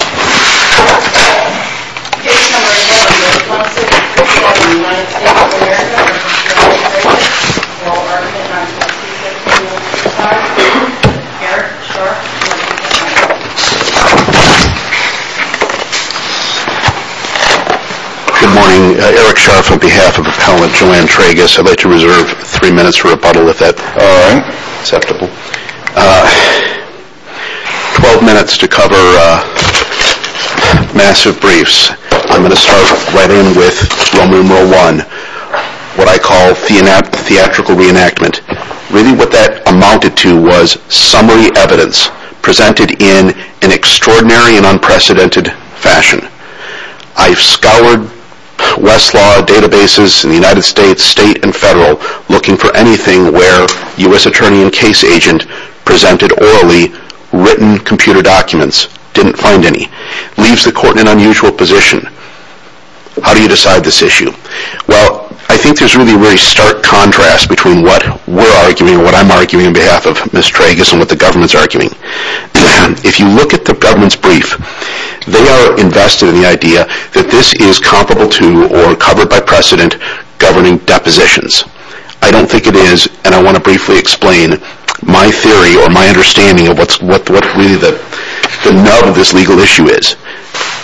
Good morning, Eric Scharf on behalf of Appellant Joanne Tragas, I'd like to reserve three minutes for rebuttal if that's acceptable. Twelve minutes to cover massive briefs. I'm going to start right in with Roman numeral one, what I call theatrical reenactment. Really what that amounted to was summary evidence presented in an extraordinary and unprecedented fashion. I've scoured Westlaw databases in the United States, state and federal, looking for anything where U.S. attorney and case agent presented orally written computer documents. Didn't find any. Leaves the court in an unusual position. How do you decide this issue? Well, I think there's really a very stark contrast between what we're arguing and what I'm arguing on behalf of Ms. Tragas and what the government's arguing. If you look at the government's brief, they are invested in the idea that this is comparable to or covered by precedent governing depositions. I don't think it is, and I want to briefly explain my theory or my understanding of what really the nub of this legal issue is.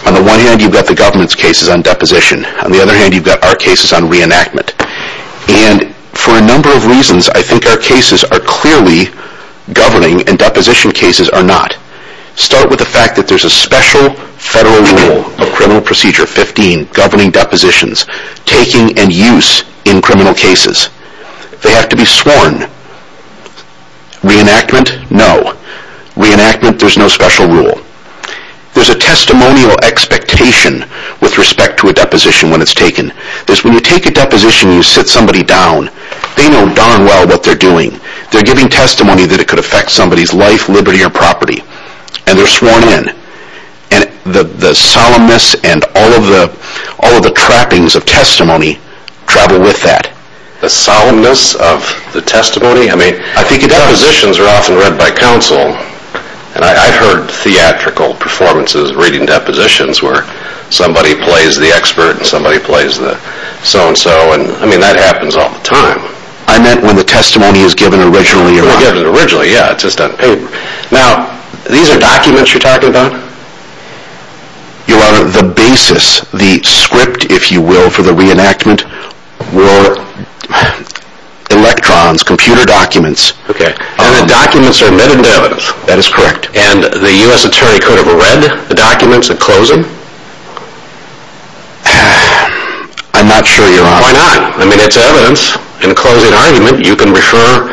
On the one hand, you've got the government's cases on deposition. On the other hand, you've got our cases on reenactment. And for a number of reasons, I think our cases are clearly governing and deposition cases are not. Start with the fact that there's a special federal rule of criminal procedure 15 governing depositions, taking and use in criminal cases. They have to be sworn. Reenactment, no. Reenactment, there's no special rule. There's a testimonial expectation with respect to a deposition when it's taken. When you take a deposition and you sit somebody down, they know darn well what they're doing. They're giving testimony that it could affect somebody's life, liberty, or property. And they're sworn in. And the solemnness and all of the trappings of testimony travel with that. The solemnness of the testimony? I mean, depositions are often read by counsel. I've heard theatrical performances reading depositions where somebody plays the expert and somebody plays the so-and-so. I mean, that happens all the time. I meant when the testimony is given originally or not. When it's given originally, yeah, it's just on paper. Now, these are documents you're talking about? You are the basis, the script, if you will, for the reenactment. We're electrons, computer documents. Okay. And the documents are metadata. That is correct. And the U.S. Attorney could have read the documents at closing? I'm not sure you are. Why not? I mean, it's evidence. In a closing argument, you can refer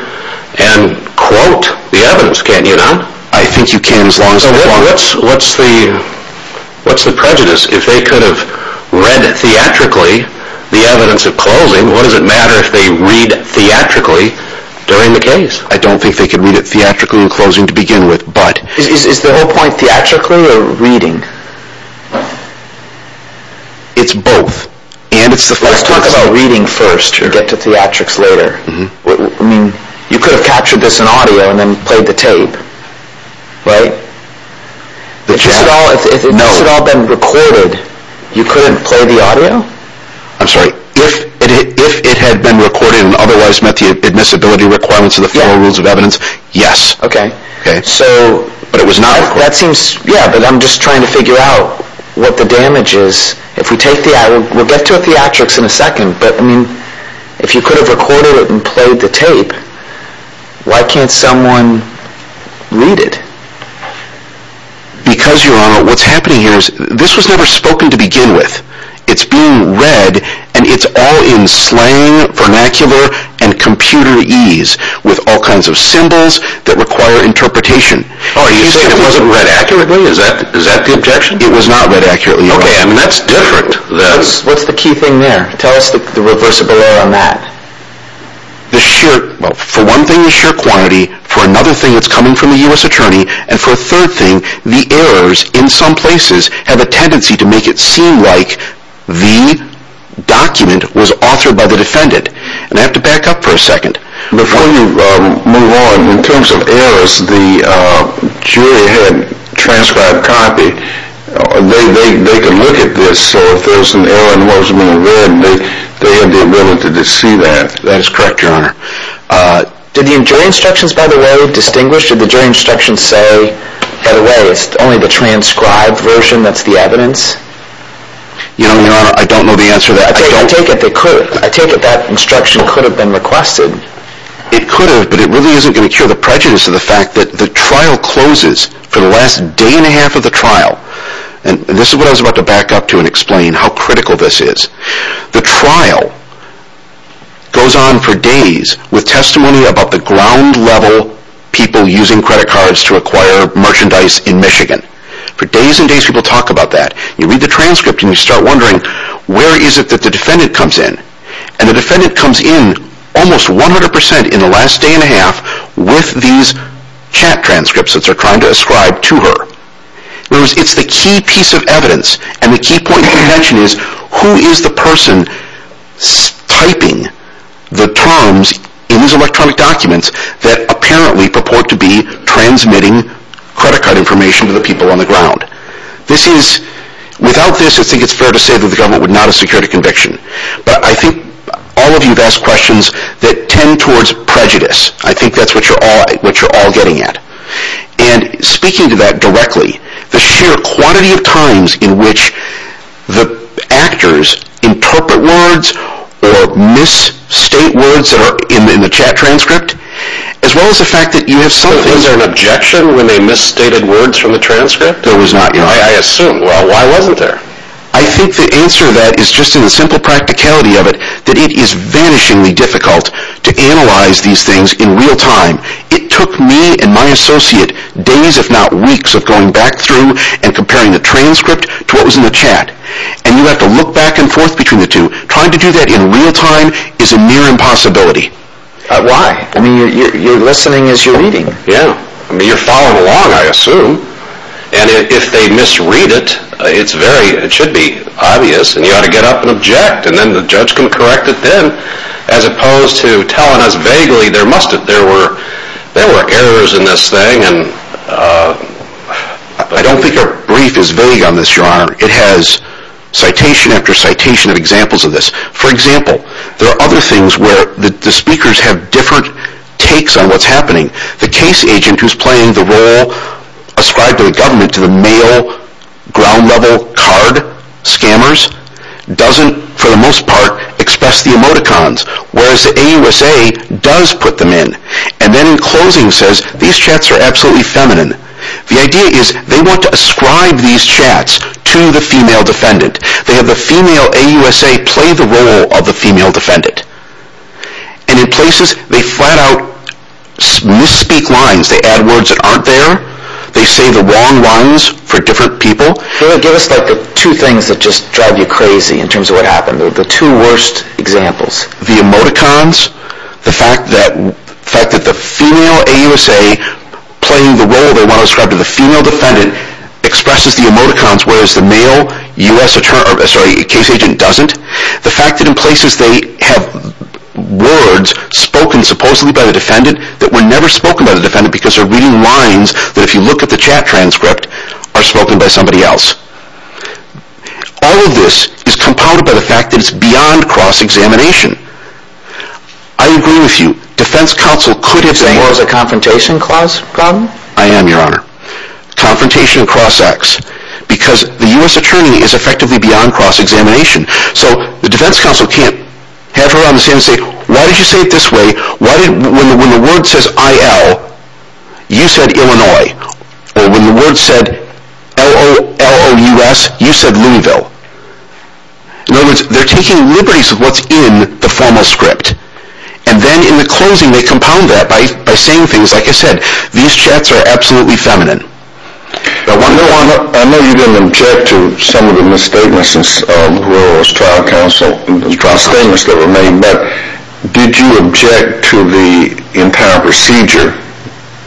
and quote the evidence, can't you, now? I think you can as long as you want. What's the prejudice? If they could have read theatrically the evidence of closing, what does it matter if they read theatrically during the hearing? It's both. And it's the fact that... Let's talk about reading first and get to theatrics later. I mean, you could have captured this in audio and then played the tape, right? If this had all been recorded, you couldn't play the audio? I'm sorry. If it had been recorded and otherwise met the damages... We'll get to theatrics in a second, but if you could have recorded it and played the tape, why can't someone read it? Because, Your Honor, what's happening here is this was never spoken to begin with. It's being read, and it's all in slang, vernacular, and computerese with all kinds of symbols that require interpretation. Are you saying it wasn't read accurately? Is that the objection? It was not read accurately. Okay, I mean, that's different. What's the key thing there? Tell us the reversible error on that. For one thing, the sheer quantity. For another thing, it's coming from the U.S. Attorney. And for a third thing, the errors in some places have a transcribed copy. They can look at this, so if there's an error in what's being read, they have the ability to see that. That is correct, Your Honor. Did the jury instructions, by the way, distinguish? Did the jury instructions say, by the way, it's only the transcribed version that's the evidence? Your Honor, I don't know the answer to that. I take it that instruction could have been requested. It could have, but it really isn't going to cure the prejudice of the fact that the trial closes for the last day and a half of the trial. And this is what I was about to back up to and explain how critical this is. The trial goes on for days with testimony about the ground level people using credit cards to acquire almost 100% in the last day and a half with these chat transcripts that they're trying to ascribe to her. It's the key piece of evidence, and the key point to mention is, who is the person typing the terms in these electronic documents that apparently purport to be transmitting credit card information to the people on the ground? Without this, I think it's fair to say that the government would not have secured a conviction. But I think all of you have asked questions that tend towards prejudice. I think that's what you're all getting at. And speaking to that directly, the sheer quantity of times in which the actors interpret words or misstate words that are in the chat transcript, as well as the fact that you have something... I assume. Why wasn't there? I think the answer to that is just in the simple practicality of it, that it is vanishingly difficult to analyze these things in real time. It took me and my associate days, if not weeks, of going back through and comparing the transcript to what was in the chat. And you have to look back and forth between the two. Trying to do that in real time is a near impossibility. Why? You're listening as you're reading. Yeah. You're following along, I assume. And if they misread it, it should be obvious, and you ought to get up and object, and then the judge can correct it then, as opposed to telling us vaguely there must have been errors in this thing. I don't think our brief is vague on this, Your Honor. It has citation after citation of examples of this. For example, there are other things where the speakers have different takes on what's happening. The case agent who's playing the role ascribed to the government, to the male, ground-level card scammers, doesn't, for the most part, express the emoticons, whereas the AUSA does put them in. And then in closing says, these chats are absolutely feminine. The idea is they want to ascribe these chats to the female defendant. They have the female AUSA play the role of the female defendant. And in places, they flat-out misspeak lines. They add words that aren't there. They say the wrong lines for different people. Can you give us the two things that just drive you crazy in terms of what happened? The two worst examples? The emoticons. The fact that the female AUSA, playing the role they want to ascribe to the female defendant, expresses the emoticons, whereas the case agent doesn't. The fact that in places they have words spoken supposedly by the defendant that were never spoken by the defendant because they're reading lines that, if you look at the chat transcript, are spoken by somebody else. All of this is compounded by the fact that it's beyond cross-examination. I agree with you. Defense counsel could have been... Is the law a confrontation clause problem? I am, your honor. Confrontation and cross-examination. Because the U.S. attorney is effectively beyond cross-examination. So the defense counsel can't have her on the stand and say, why did you say it this way? When the word says I-L, you said Illinois. Or when the word said L-O-L-O-U-S, you said Looneyville. In other words, they're taking liberties with what's in the formal script. And then in the closing, they compound that by saying things like I said, these chats are absolutely feminine. I know you didn't object to some of the misstatements that were made, but did you object to the entire procedure?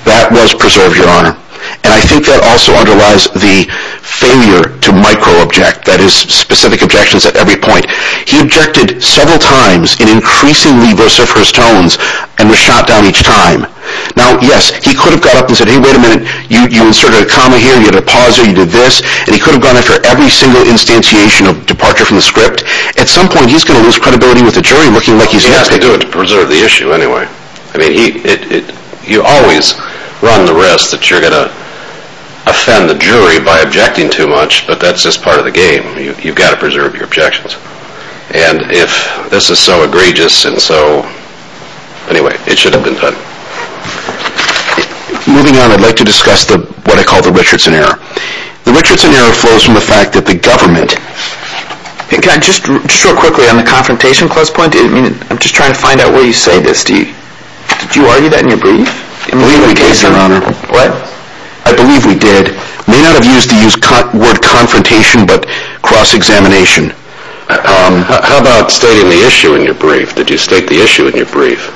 That was preserved, your honor. And I think that also underlies the failure to micro-object. That is, specific objections at every point. He objected several times in increasingly verser of his tones and was shot down each time. Now, yes, he could have got up and said, hey, wait a minute, you inserted a comma here, you did a pauser, you did this, and he could have gone after every single instantiation of departure from the script. At some point, he's going to lose credibility with the jury looking like he's... But he didn't do it to preserve the issue anyway. I mean, you always run the risk that you're going to offend the jury by objecting too much, but that's just part of the game. You've got to preserve your objections. And if this is so egregious and so... Anyway, it should have been done. Moving on, I'd like to discuss what I call the Richardson Error. The Richardson Error flows from the fact that the government... Just real quickly, on the confrontation clause point, I'm just trying to find out where you say this. Did you argue that in your brief? I believe we did, your honor. What? I believe we did. May not have used the word confrontation, but cross-examination. How about stating the issue in your brief? Did you state the issue in your brief?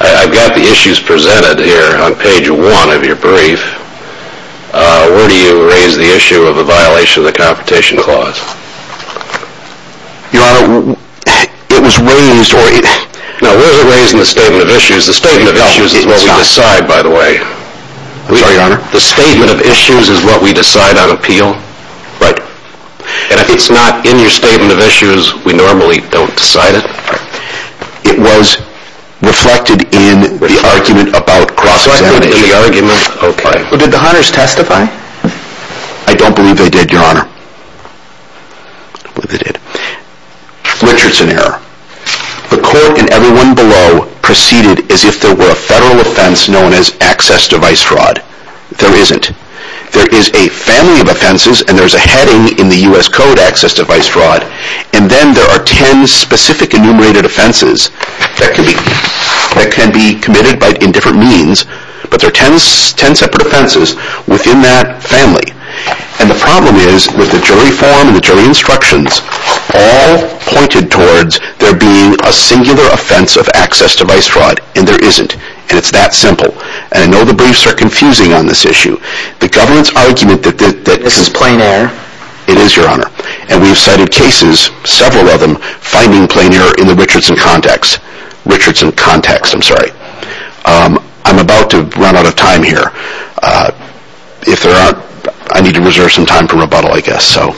I've got the issues presented here on page one of your brief. Where do you raise the issue of a violation of the confrontation clause? Your honor, it was raised... No, it wasn't raised in the statement of issues. The statement of issues is what we decide, by the way. I'm sorry, your honor? The statement of issues is what we decide on appeal. Right. And if it's not in your statement of issues, we normally don't decide it. It was reflected in the argument about cross-examination. Did the hunters testify? I don't believe they did, your honor. I don't believe they did. Richardson Error. The court and everyone below proceeded as if there were a federal offense known as access device fraud. There isn't. There is a family of offenses and there is a heading in the U.S. Code, access device fraud. And then there are ten specific enumerated offenses that can be committed in different means. But there are ten separate offenses within that family. And the problem is, with the jury form and the jury instructions, all pointed towards there being a singular offense of access device fraud. And there isn't. And it's that simple. And I know the briefs are confusing on this issue. The government's argument that... This is plain error. It is, your honor. And we've cited cases, several of them, finding plain error in the Richardson context. Richardson context, I'm sorry. I'm about to run out of time here. If there aren't, I need to reserve some time for rebuttal, I guess. So,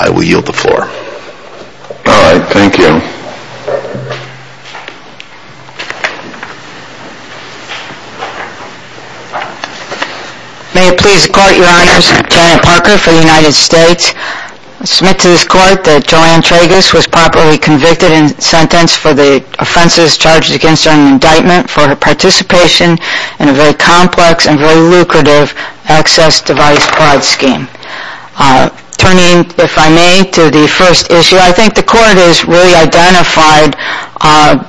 I will yield the floor. Alright, thank you. May it please the court, your honors. Janet Parker for the United States. I submit to this court that Joanne Tragus was properly convicted and sentenced for the offenses charged against her in indictment for her participation in a very complex and very lucrative access device fraud scheme. Turning, if I may, to the first issue.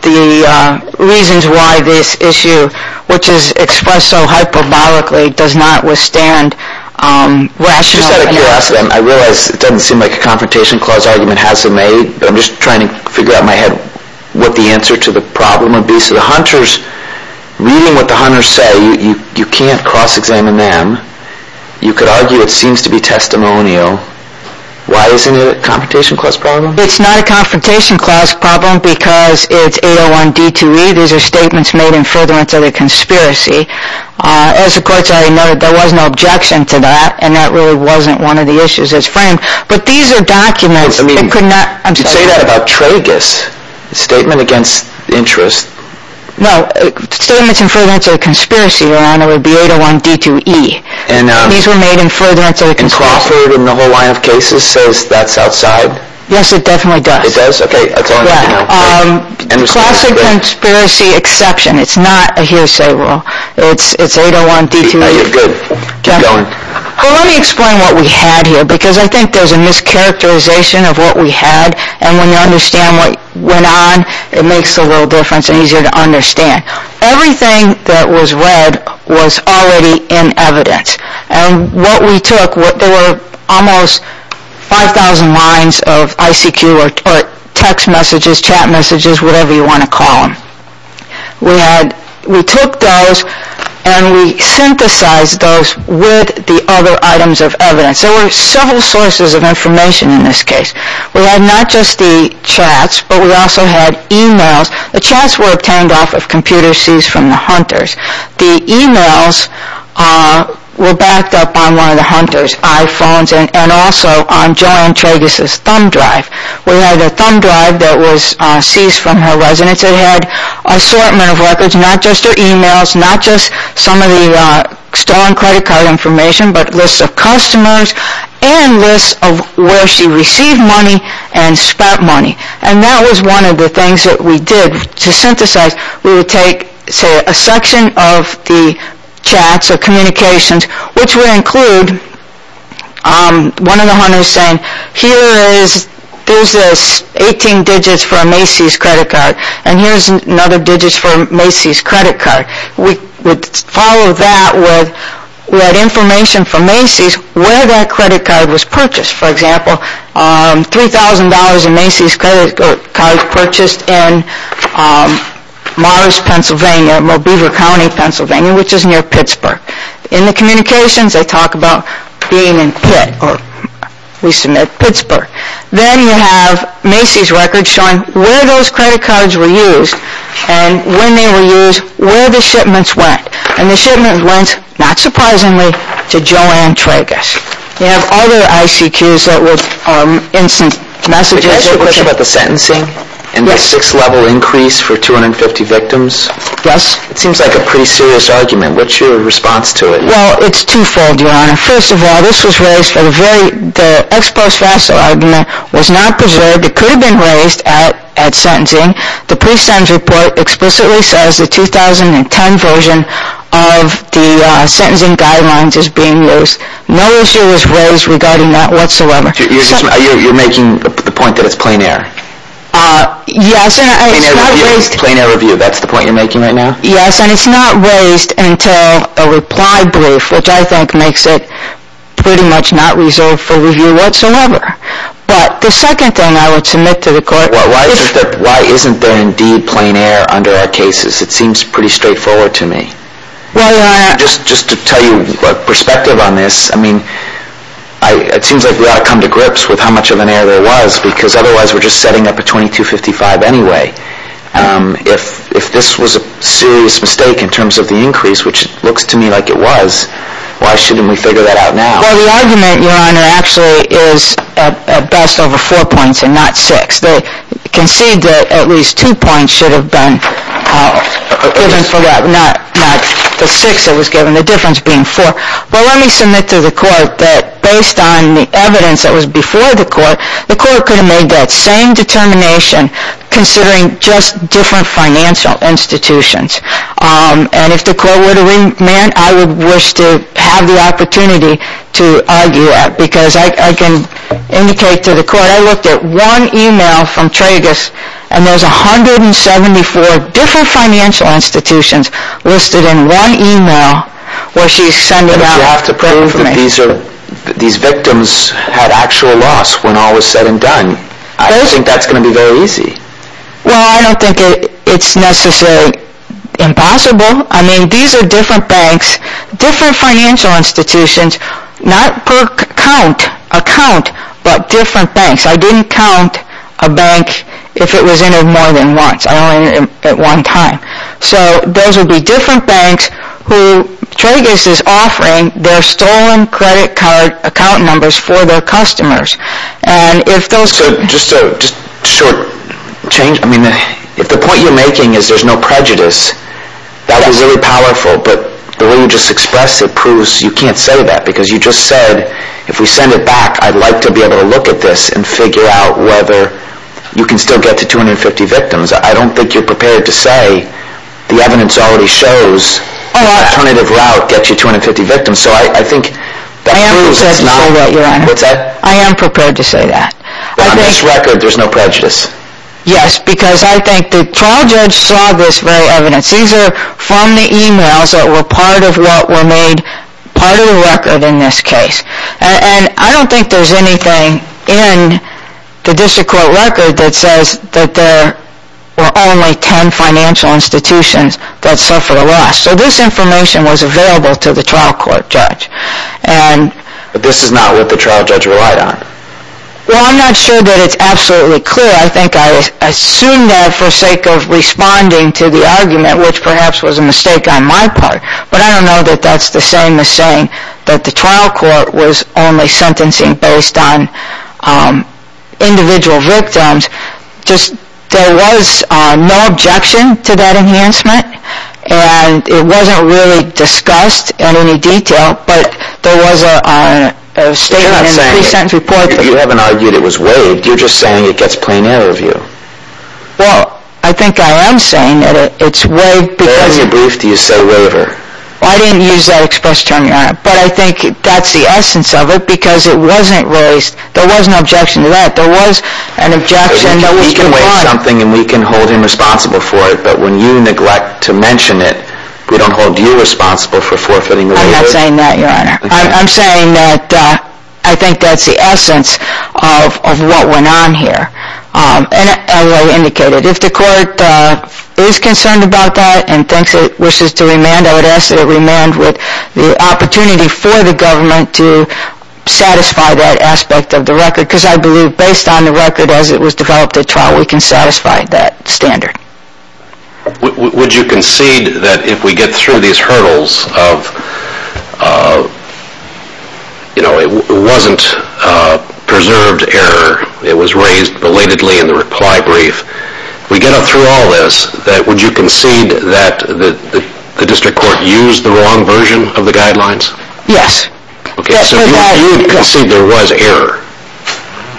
The reasons why this issue, which is expressed so hyperbolically, does not withstand rational... Just out of curiosity, I realize it doesn't seem like a Confrontation Clause argument has been made, but I'm just trying to figure out in my head what the answer to the problem would be. So, the hunters, reading what the hunters say, you can't cross-examine them. You could argue it seems to be testimonial. Why isn't it a Confrontation Clause problem? It's not a Confrontation Clause problem because it's 801D2E. These are statements made in furtherance of a conspiracy. As the courts already noted, there was no objection to that, and that really wasn't one of the issues that's framed. But these are documents that could not... Say that about Tragus. Statement against interest. No, statements in furtherance of a conspiracy, your honor, would be 801D2E. These were made in furtherance of a conspiracy. And Crawford, in the whole line of cases, says that's outside? Yes, it definitely does. It does? Okay, that's all I need to know. Classic conspiracy exception. It's not a hearsay rule. It's 801D2E. No, you're good. Keep going. Well, let me explain what we had here, because I think there's a mischaracterization of what we had. And when you understand what went on, it makes a little difference and easier to understand. Everything that was read was already in evidence. And what we took, there were almost 5,000 lines of ICQ or text messages, chat messages, whatever you want to call them. We took those and we synthesized those with the other items of evidence. There were several sources of information in this case. We had not just the chats, but we also had emails. The chats were obtained off of computer seeds from the hunters. The emails were backed up on one of the hunters' iPhones and also on Joanne Tragus' thumb drive. We had a thumb drive that was seized from her residence. It had an assortment of records, not just her emails, not just some of the stolen credit card information, but lists of customers and lists of where she received money and spent money. And that was one of the things that we did. To synthesize, we would take, say, a section of the chats or communications, which would include one of the hunters saying, here is this 18 digits for a Macy's credit card and here is another digits for a Macy's credit card. We would follow that with information from Macy's where that credit card was purchased. For example, $3,000 in Macy's credit cards purchased in Morris, Pennsylvania, Mobever County, Pennsylvania, which is near Pittsburgh. In the communications, they talk about being in Pitt, or we submit Pittsburgh. Then you have Macy's records showing where those credit cards were used and when they were used, where the shipments went. And the shipments went, not surprisingly, to Joanne Tragus. We have other ICQs that would instant message us. Can I ask you a question about the sentencing and the 6-level increase for 250 victims? Yes. It seems like a pretty serious argument. What is your response to it? Well, it is two-fold, Your Honor. First of all, this was raised for the very, the ex-post-vassal argument was not preserved. It could have been raised at sentencing. The pre-sentence report explicitly says the 2010 version of the sentencing guidelines is being used. No issue was raised regarding that whatsoever. You're making the point that it's plain air? Yes. Plain air review, that's the point you're making right now? Yes, and it's not raised until a reply brief, which I think makes it pretty much not resolved for review whatsoever. But the second thing I would submit to the court is... Why isn't there indeed plain air under our cases? It seems pretty straightforward to me. Your Honor, just to tell you a perspective on this, I mean, it seems like we ought to come to grips with how much of an error there was, because otherwise we're just setting up a 2255 anyway. If this was a serious mistake in terms of the increase, which it looks to me like it was, why shouldn't we figure that out now? Well, the argument, Your Honor, actually is at best over four points and not six. They concede that at least two points should have been given for that, not the six that was given, the difference being four. But let me submit to the court that based on the evidence that was before the court, the court could have made that same determination considering just different financial institutions. And if the court were to remand, I would wish to have the opportunity to argue that, because I can indicate to the court, I looked at one email from Tragus, and there's 174 different financial institutions listed in one email where she's sending out... But you have to prove that these victims had actual loss when all was said and done. I don't think that's going to be very easy. Well, I don't think it's necessarily impossible. I mean, these are different banks, different financial institutions, not per account, but different banks. I didn't count a bank if it was entered more than once. I only entered it at one time. So those would be different banks who Tragus is offering their stolen credit card account numbers for their customers. So just a short change. I mean, if the point you're making is there's no prejudice, that is really powerful. But the way you just expressed it proves you can't say that, because you just said, if we send it back, I'd like to be able to look at this and figure out whether you can still get to 250 victims. I don't think you're prepared to say the evidence already shows the alternative route gets you 250 victims. And so I think that proves it's not... I am prepared to say that, Your Honor. I am prepared to say that. But on this record, there's no prejudice. Yes, because I think the trial judge saw this very evidence. These are from the emails that were part of what were made part of the record in this case. And I don't think there's anything in the district court record that says that there were only 10 financial institutions that suffered a loss. So this information was available to the trial court judge. But this is not what the trial judge relied on. Well, I'm not sure that it's absolutely clear. I think I assumed that for sake of responding to the argument, which perhaps was a mistake on my part. But I don't know that that's the same as saying that the trial court was only sentencing based on individual victims. There was no objection to that enhancement. And it wasn't really discussed in any detail. But there was a statement in the pre-sentence report... You're not saying it. You haven't argued it was waived. You're just saying it gets plain error of you. Well, I think I am saying that it's waived because... Where in your brief do you say waiver? I didn't use that express term, Your Honor. But I think that's the essence of it because it wasn't raised... There was no objection to that. There was an objection... We can waive something and we can hold him responsible for it. But when you neglect to mention it, we don't hold you responsible for forfeiting the waiver. I'm not saying that, Your Honor. I'm saying that I think that's the essence of what went on here. And as I indicated, if the court is concerned about that and thinks it wishes to remand, I would ask that it remand with the opportunity for the government to satisfy that aspect of the record. Because I believe based on the record as it was developed at trial, we can satisfy that standard. Would you concede that if we get through these hurdles of... You know, it wasn't preserved error. It was raised belatedly in the reply brief. If we get through all this, would you concede that the district court used the wrong version of the guidelines? Yes. Okay, so you concede there was error.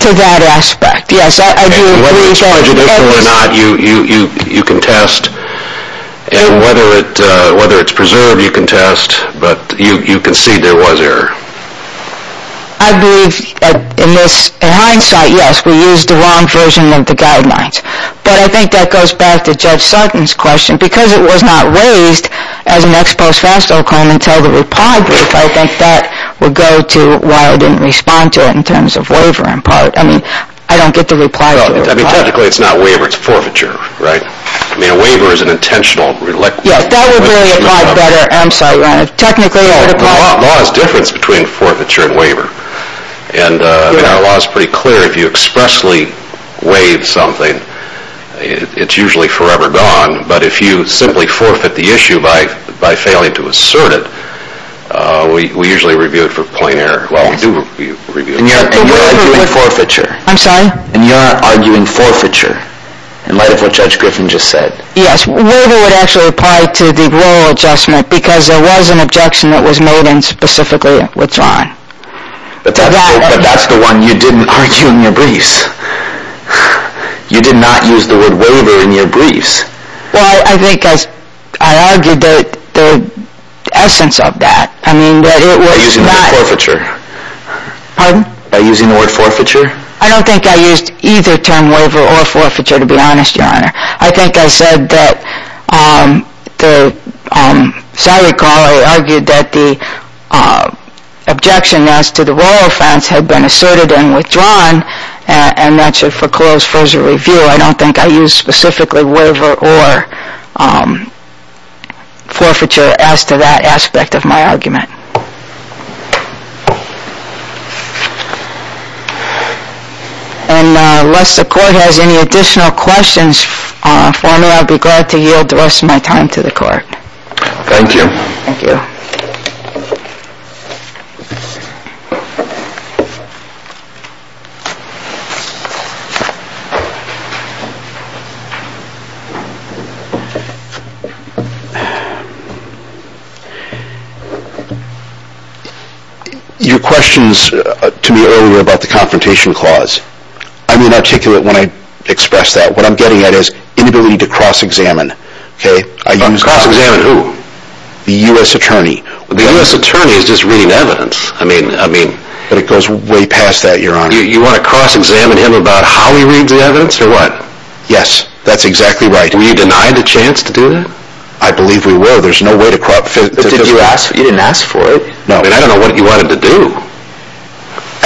To that aspect, yes. And whether it's prejudicial or not, you can test. And whether it's preserved, you can test. But you concede there was error. I believe in hindsight, yes, we used the wrong version of the guidelines. But I think that goes back to Judge Sutton's question. Because it was not raised as an ex post-facto claim until the reply brief, I think that would go to why I didn't respond to it in terms of waiver in part. I mean, I don't get the reply to the reply. Technically, it's not waiver, it's forfeiture, right? I mean, a waiver is an intentional... Yes, that would really apply better. I'm sorry, Your Honor. The law is the difference between forfeiture and waiver. And our law is pretty clear. If you expressly waive something, it's usually forever gone. If you simply forfeit the issue by failing to assert it, we usually review it for plain error. Well, we do review it. And you're arguing forfeiture. I'm sorry? And you're arguing forfeiture in light of what Judge Griffin just said. Yes, waiver would actually apply to the oral adjustment because there was an objection that was made in specifically with John. But that's the one you didn't argue in your briefs. You did not use the word waiver in your briefs. No, because I argued the essence of that. By using the word forfeiture? Pardon? By using the word forfeiture? I don't think I used either term, waiver or forfeiture, to be honest, Your Honor. I think I said that, as I recall, I argued that the objection as to the royal offense had been asserted and withdrawn, and that should foreclose further review. I don't think I used specifically waiver or forfeiture as to that aspect of my argument. And unless the Court has any additional questions for me, I'll be glad to yield the rest of my time to the Court. Thank you. Thank you. Your questions to me earlier about the Confrontation Clause, I'm inarticulate when I express that. What I'm getting at is inability to cross-examine. Cross-examine who? The U.S. Attorney. The U.S. Attorney is just reading evidence. But it goes way past that, Your Honor. You want to cross-examine him about how he reads the evidence or what? Yes, that's exactly right. Were you denied a chance to do that? I believe we were. There's no way to cross-examine. You didn't ask for it? No, and I don't know what you wanted to do.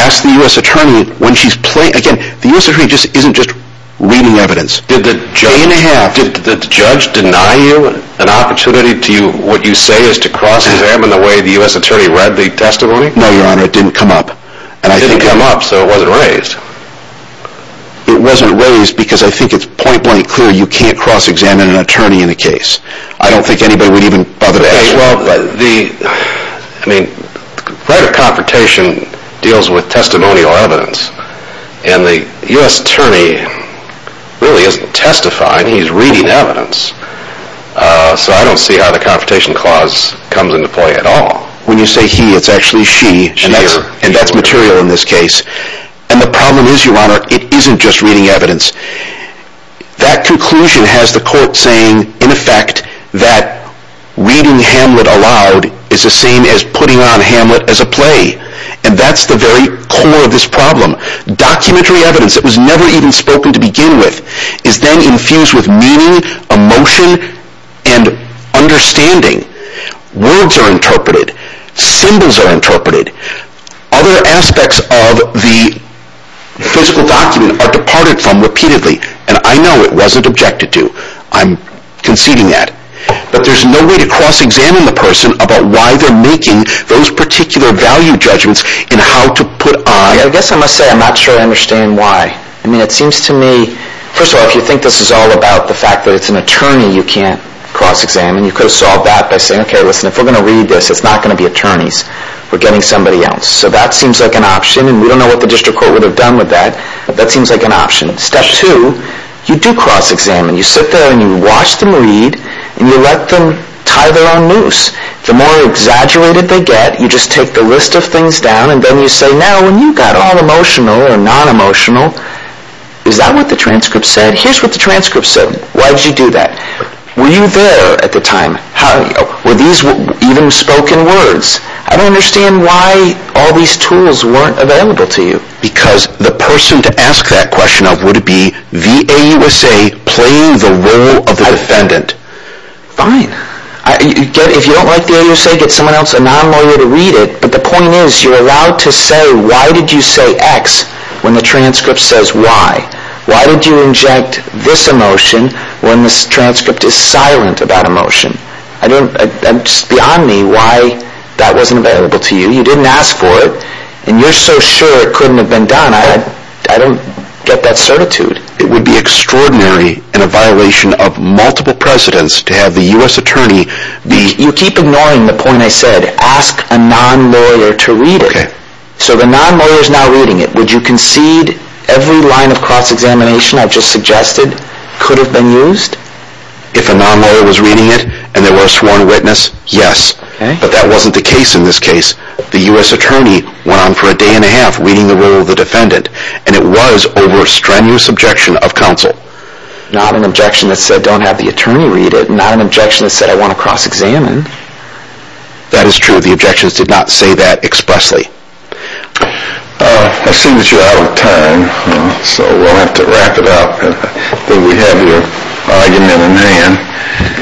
Ask the U.S. Attorney when she's playing. Again, the U.S. Attorney isn't just reading evidence. Did the judge deny you an opportunity to cross-examine the way the U.S. Attorney read the testimony? No, Your Honor, it didn't come up. It didn't come up, so it wasn't raised? It wasn't raised because I think it's point-blank clear you can't cross-examine an attorney in a case. I don't think anybody would even bother to ask you. Okay, well, the, I mean, private confrontation deals with testimonial evidence. And the U.S. Attorney really isn't testifying. He's reading evidence. So I don't see how the confrontation clause comes into play at all. When you say he, it's actually she. And that's material in this case. And the problem is, Your Honor, it isn't just reading evidence. That conclusion has the court saying, in effect, that reading Hamlet aloud is the same as putting on Hamlet as a play. And that's the very core of this problem. Documentary evidence that was never even spoken to begin with is then infused with meaning, emotion, and understanding. Symbols are interpreted. Other aspects of the physical document are departed from repeatedly. And I know it wasn't objected to. I'm conceding that. But there's no way to cross-examine the person about why they're making those particular value judgments in how to put on. I guess I must say I'm not sure I understand why. I mean, it seems to me, first of all, if you think this is all about the fact that it's an attorney you can't cross-examine, you could have solved that by saying, okay, listen, if we're going to read this, it's not going to be attorneys. We're getting somebody else. So that seems like an option. And we don't know what the district court would have done with that. But that seems like an option. Step two, you do cross-examine. You sit there and you watch them read. And you let them tie their own loose. The more exaggerated they get, you just take the list of things down. And then you say, now, when you got all emotional or non-emotional, is that what the transcript said? Here's what the transcript said. Why did you do that? Were you there at the time? Were these even spoken words? I don't understand why all these tools weren't available to you. Because the person to ask that question of would be the AUSA playing the role of the defendant. Fine. If you don't like the AUSA, get someone else, a non-lawyer, to read it. But the point is, you're allowed to say, why did you say X when the transcript says Y? Why did you inject this emotion when the transcript is silent about emotion? It's beyond me why that wasn't available to you. You didn't ask for it. And you're so sure it couldn't have been done. I don't get that certitude. It would be extraordinary in a violation of multiple precedents to have the U.S. attorney be... You keep ignoring the point I said. Ask a non-lawyer to read it. So the non-lawyer is now reading it. Would you concede every line of cross-examination I've just suggested could have been used? If a non-lawyer was reading it and there were a sworn witness, yes. But that wasn't the case in this case. The U.S. attorney went on for a day and a half reading the role of the defendant. And it was over a strenuous objection of counsel. Not an objection that said don't have the attorney read it. Not an objection that said I want to cross-examine. That is true. The objections did not say that expressly. I see that you're out of time. So we'll have to wrap it up. We have your argument in hand.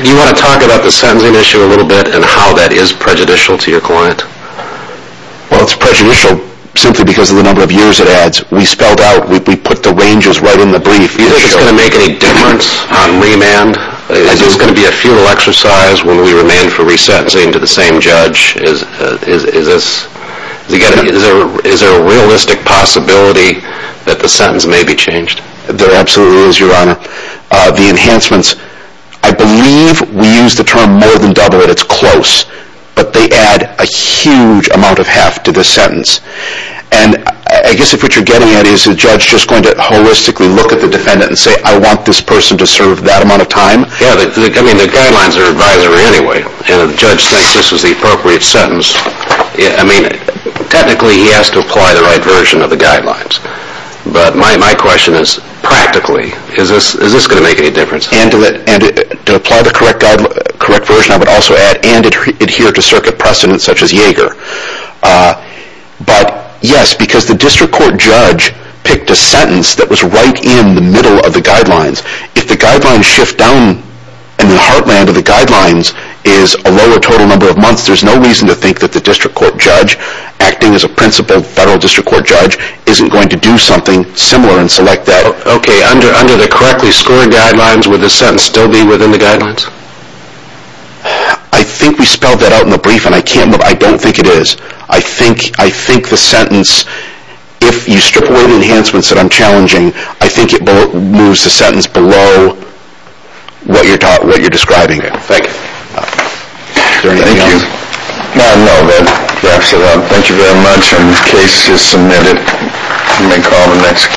Do you want to talk about the sentencing issue a little bit and how that is prejudicial to your client? Well, it's prejudicial simply because of the number of years it adds. We spelled out, we put the ranges right in the brief. Do you think it's going to make any difference on remand? Is this going to be a futile exercise when we remand for resentencing to the same judge? Is there a realistic possibility that the sentence may be changed? There absolutely is, Your Honor. The enhancements, I believe we use the term more than double it, it's close. But they add a huge amount of heft to this sentence. And I guess what you're getting at is the judge just going to holistically look at the defendant and say I want this person to serve that amount of time? Yeah, I mean the guidelines are advisory anyway. And if the judge thinks this is the appropriate sentence, I mean technically he has to apply the right version of the guidelines. But my question is practically, is this going to make any difference? And to apply the correct version I would also add, and adhere to circuit precedents such as Yaeger. But yes, because the district court judge picked a sentence that was right in the middle of the guidelines. If the guidelines shift down and the heartland of the guidelines is a lower total number of months, there's no reason to think that the district court judge acting as a principal federal district court judge isn't going to do something similar and select that. Okay, under the correctly scored guidelines would the sentence still be within the guidelines? I think we spelled that out in the brief and I don't think it is. I think the sentence, if you strip away the enhancements that I'm challenging, I think it moves the sentence below what you're describing. Thank you. I don't know. Thank you very much. Case is submitted. You may call the next.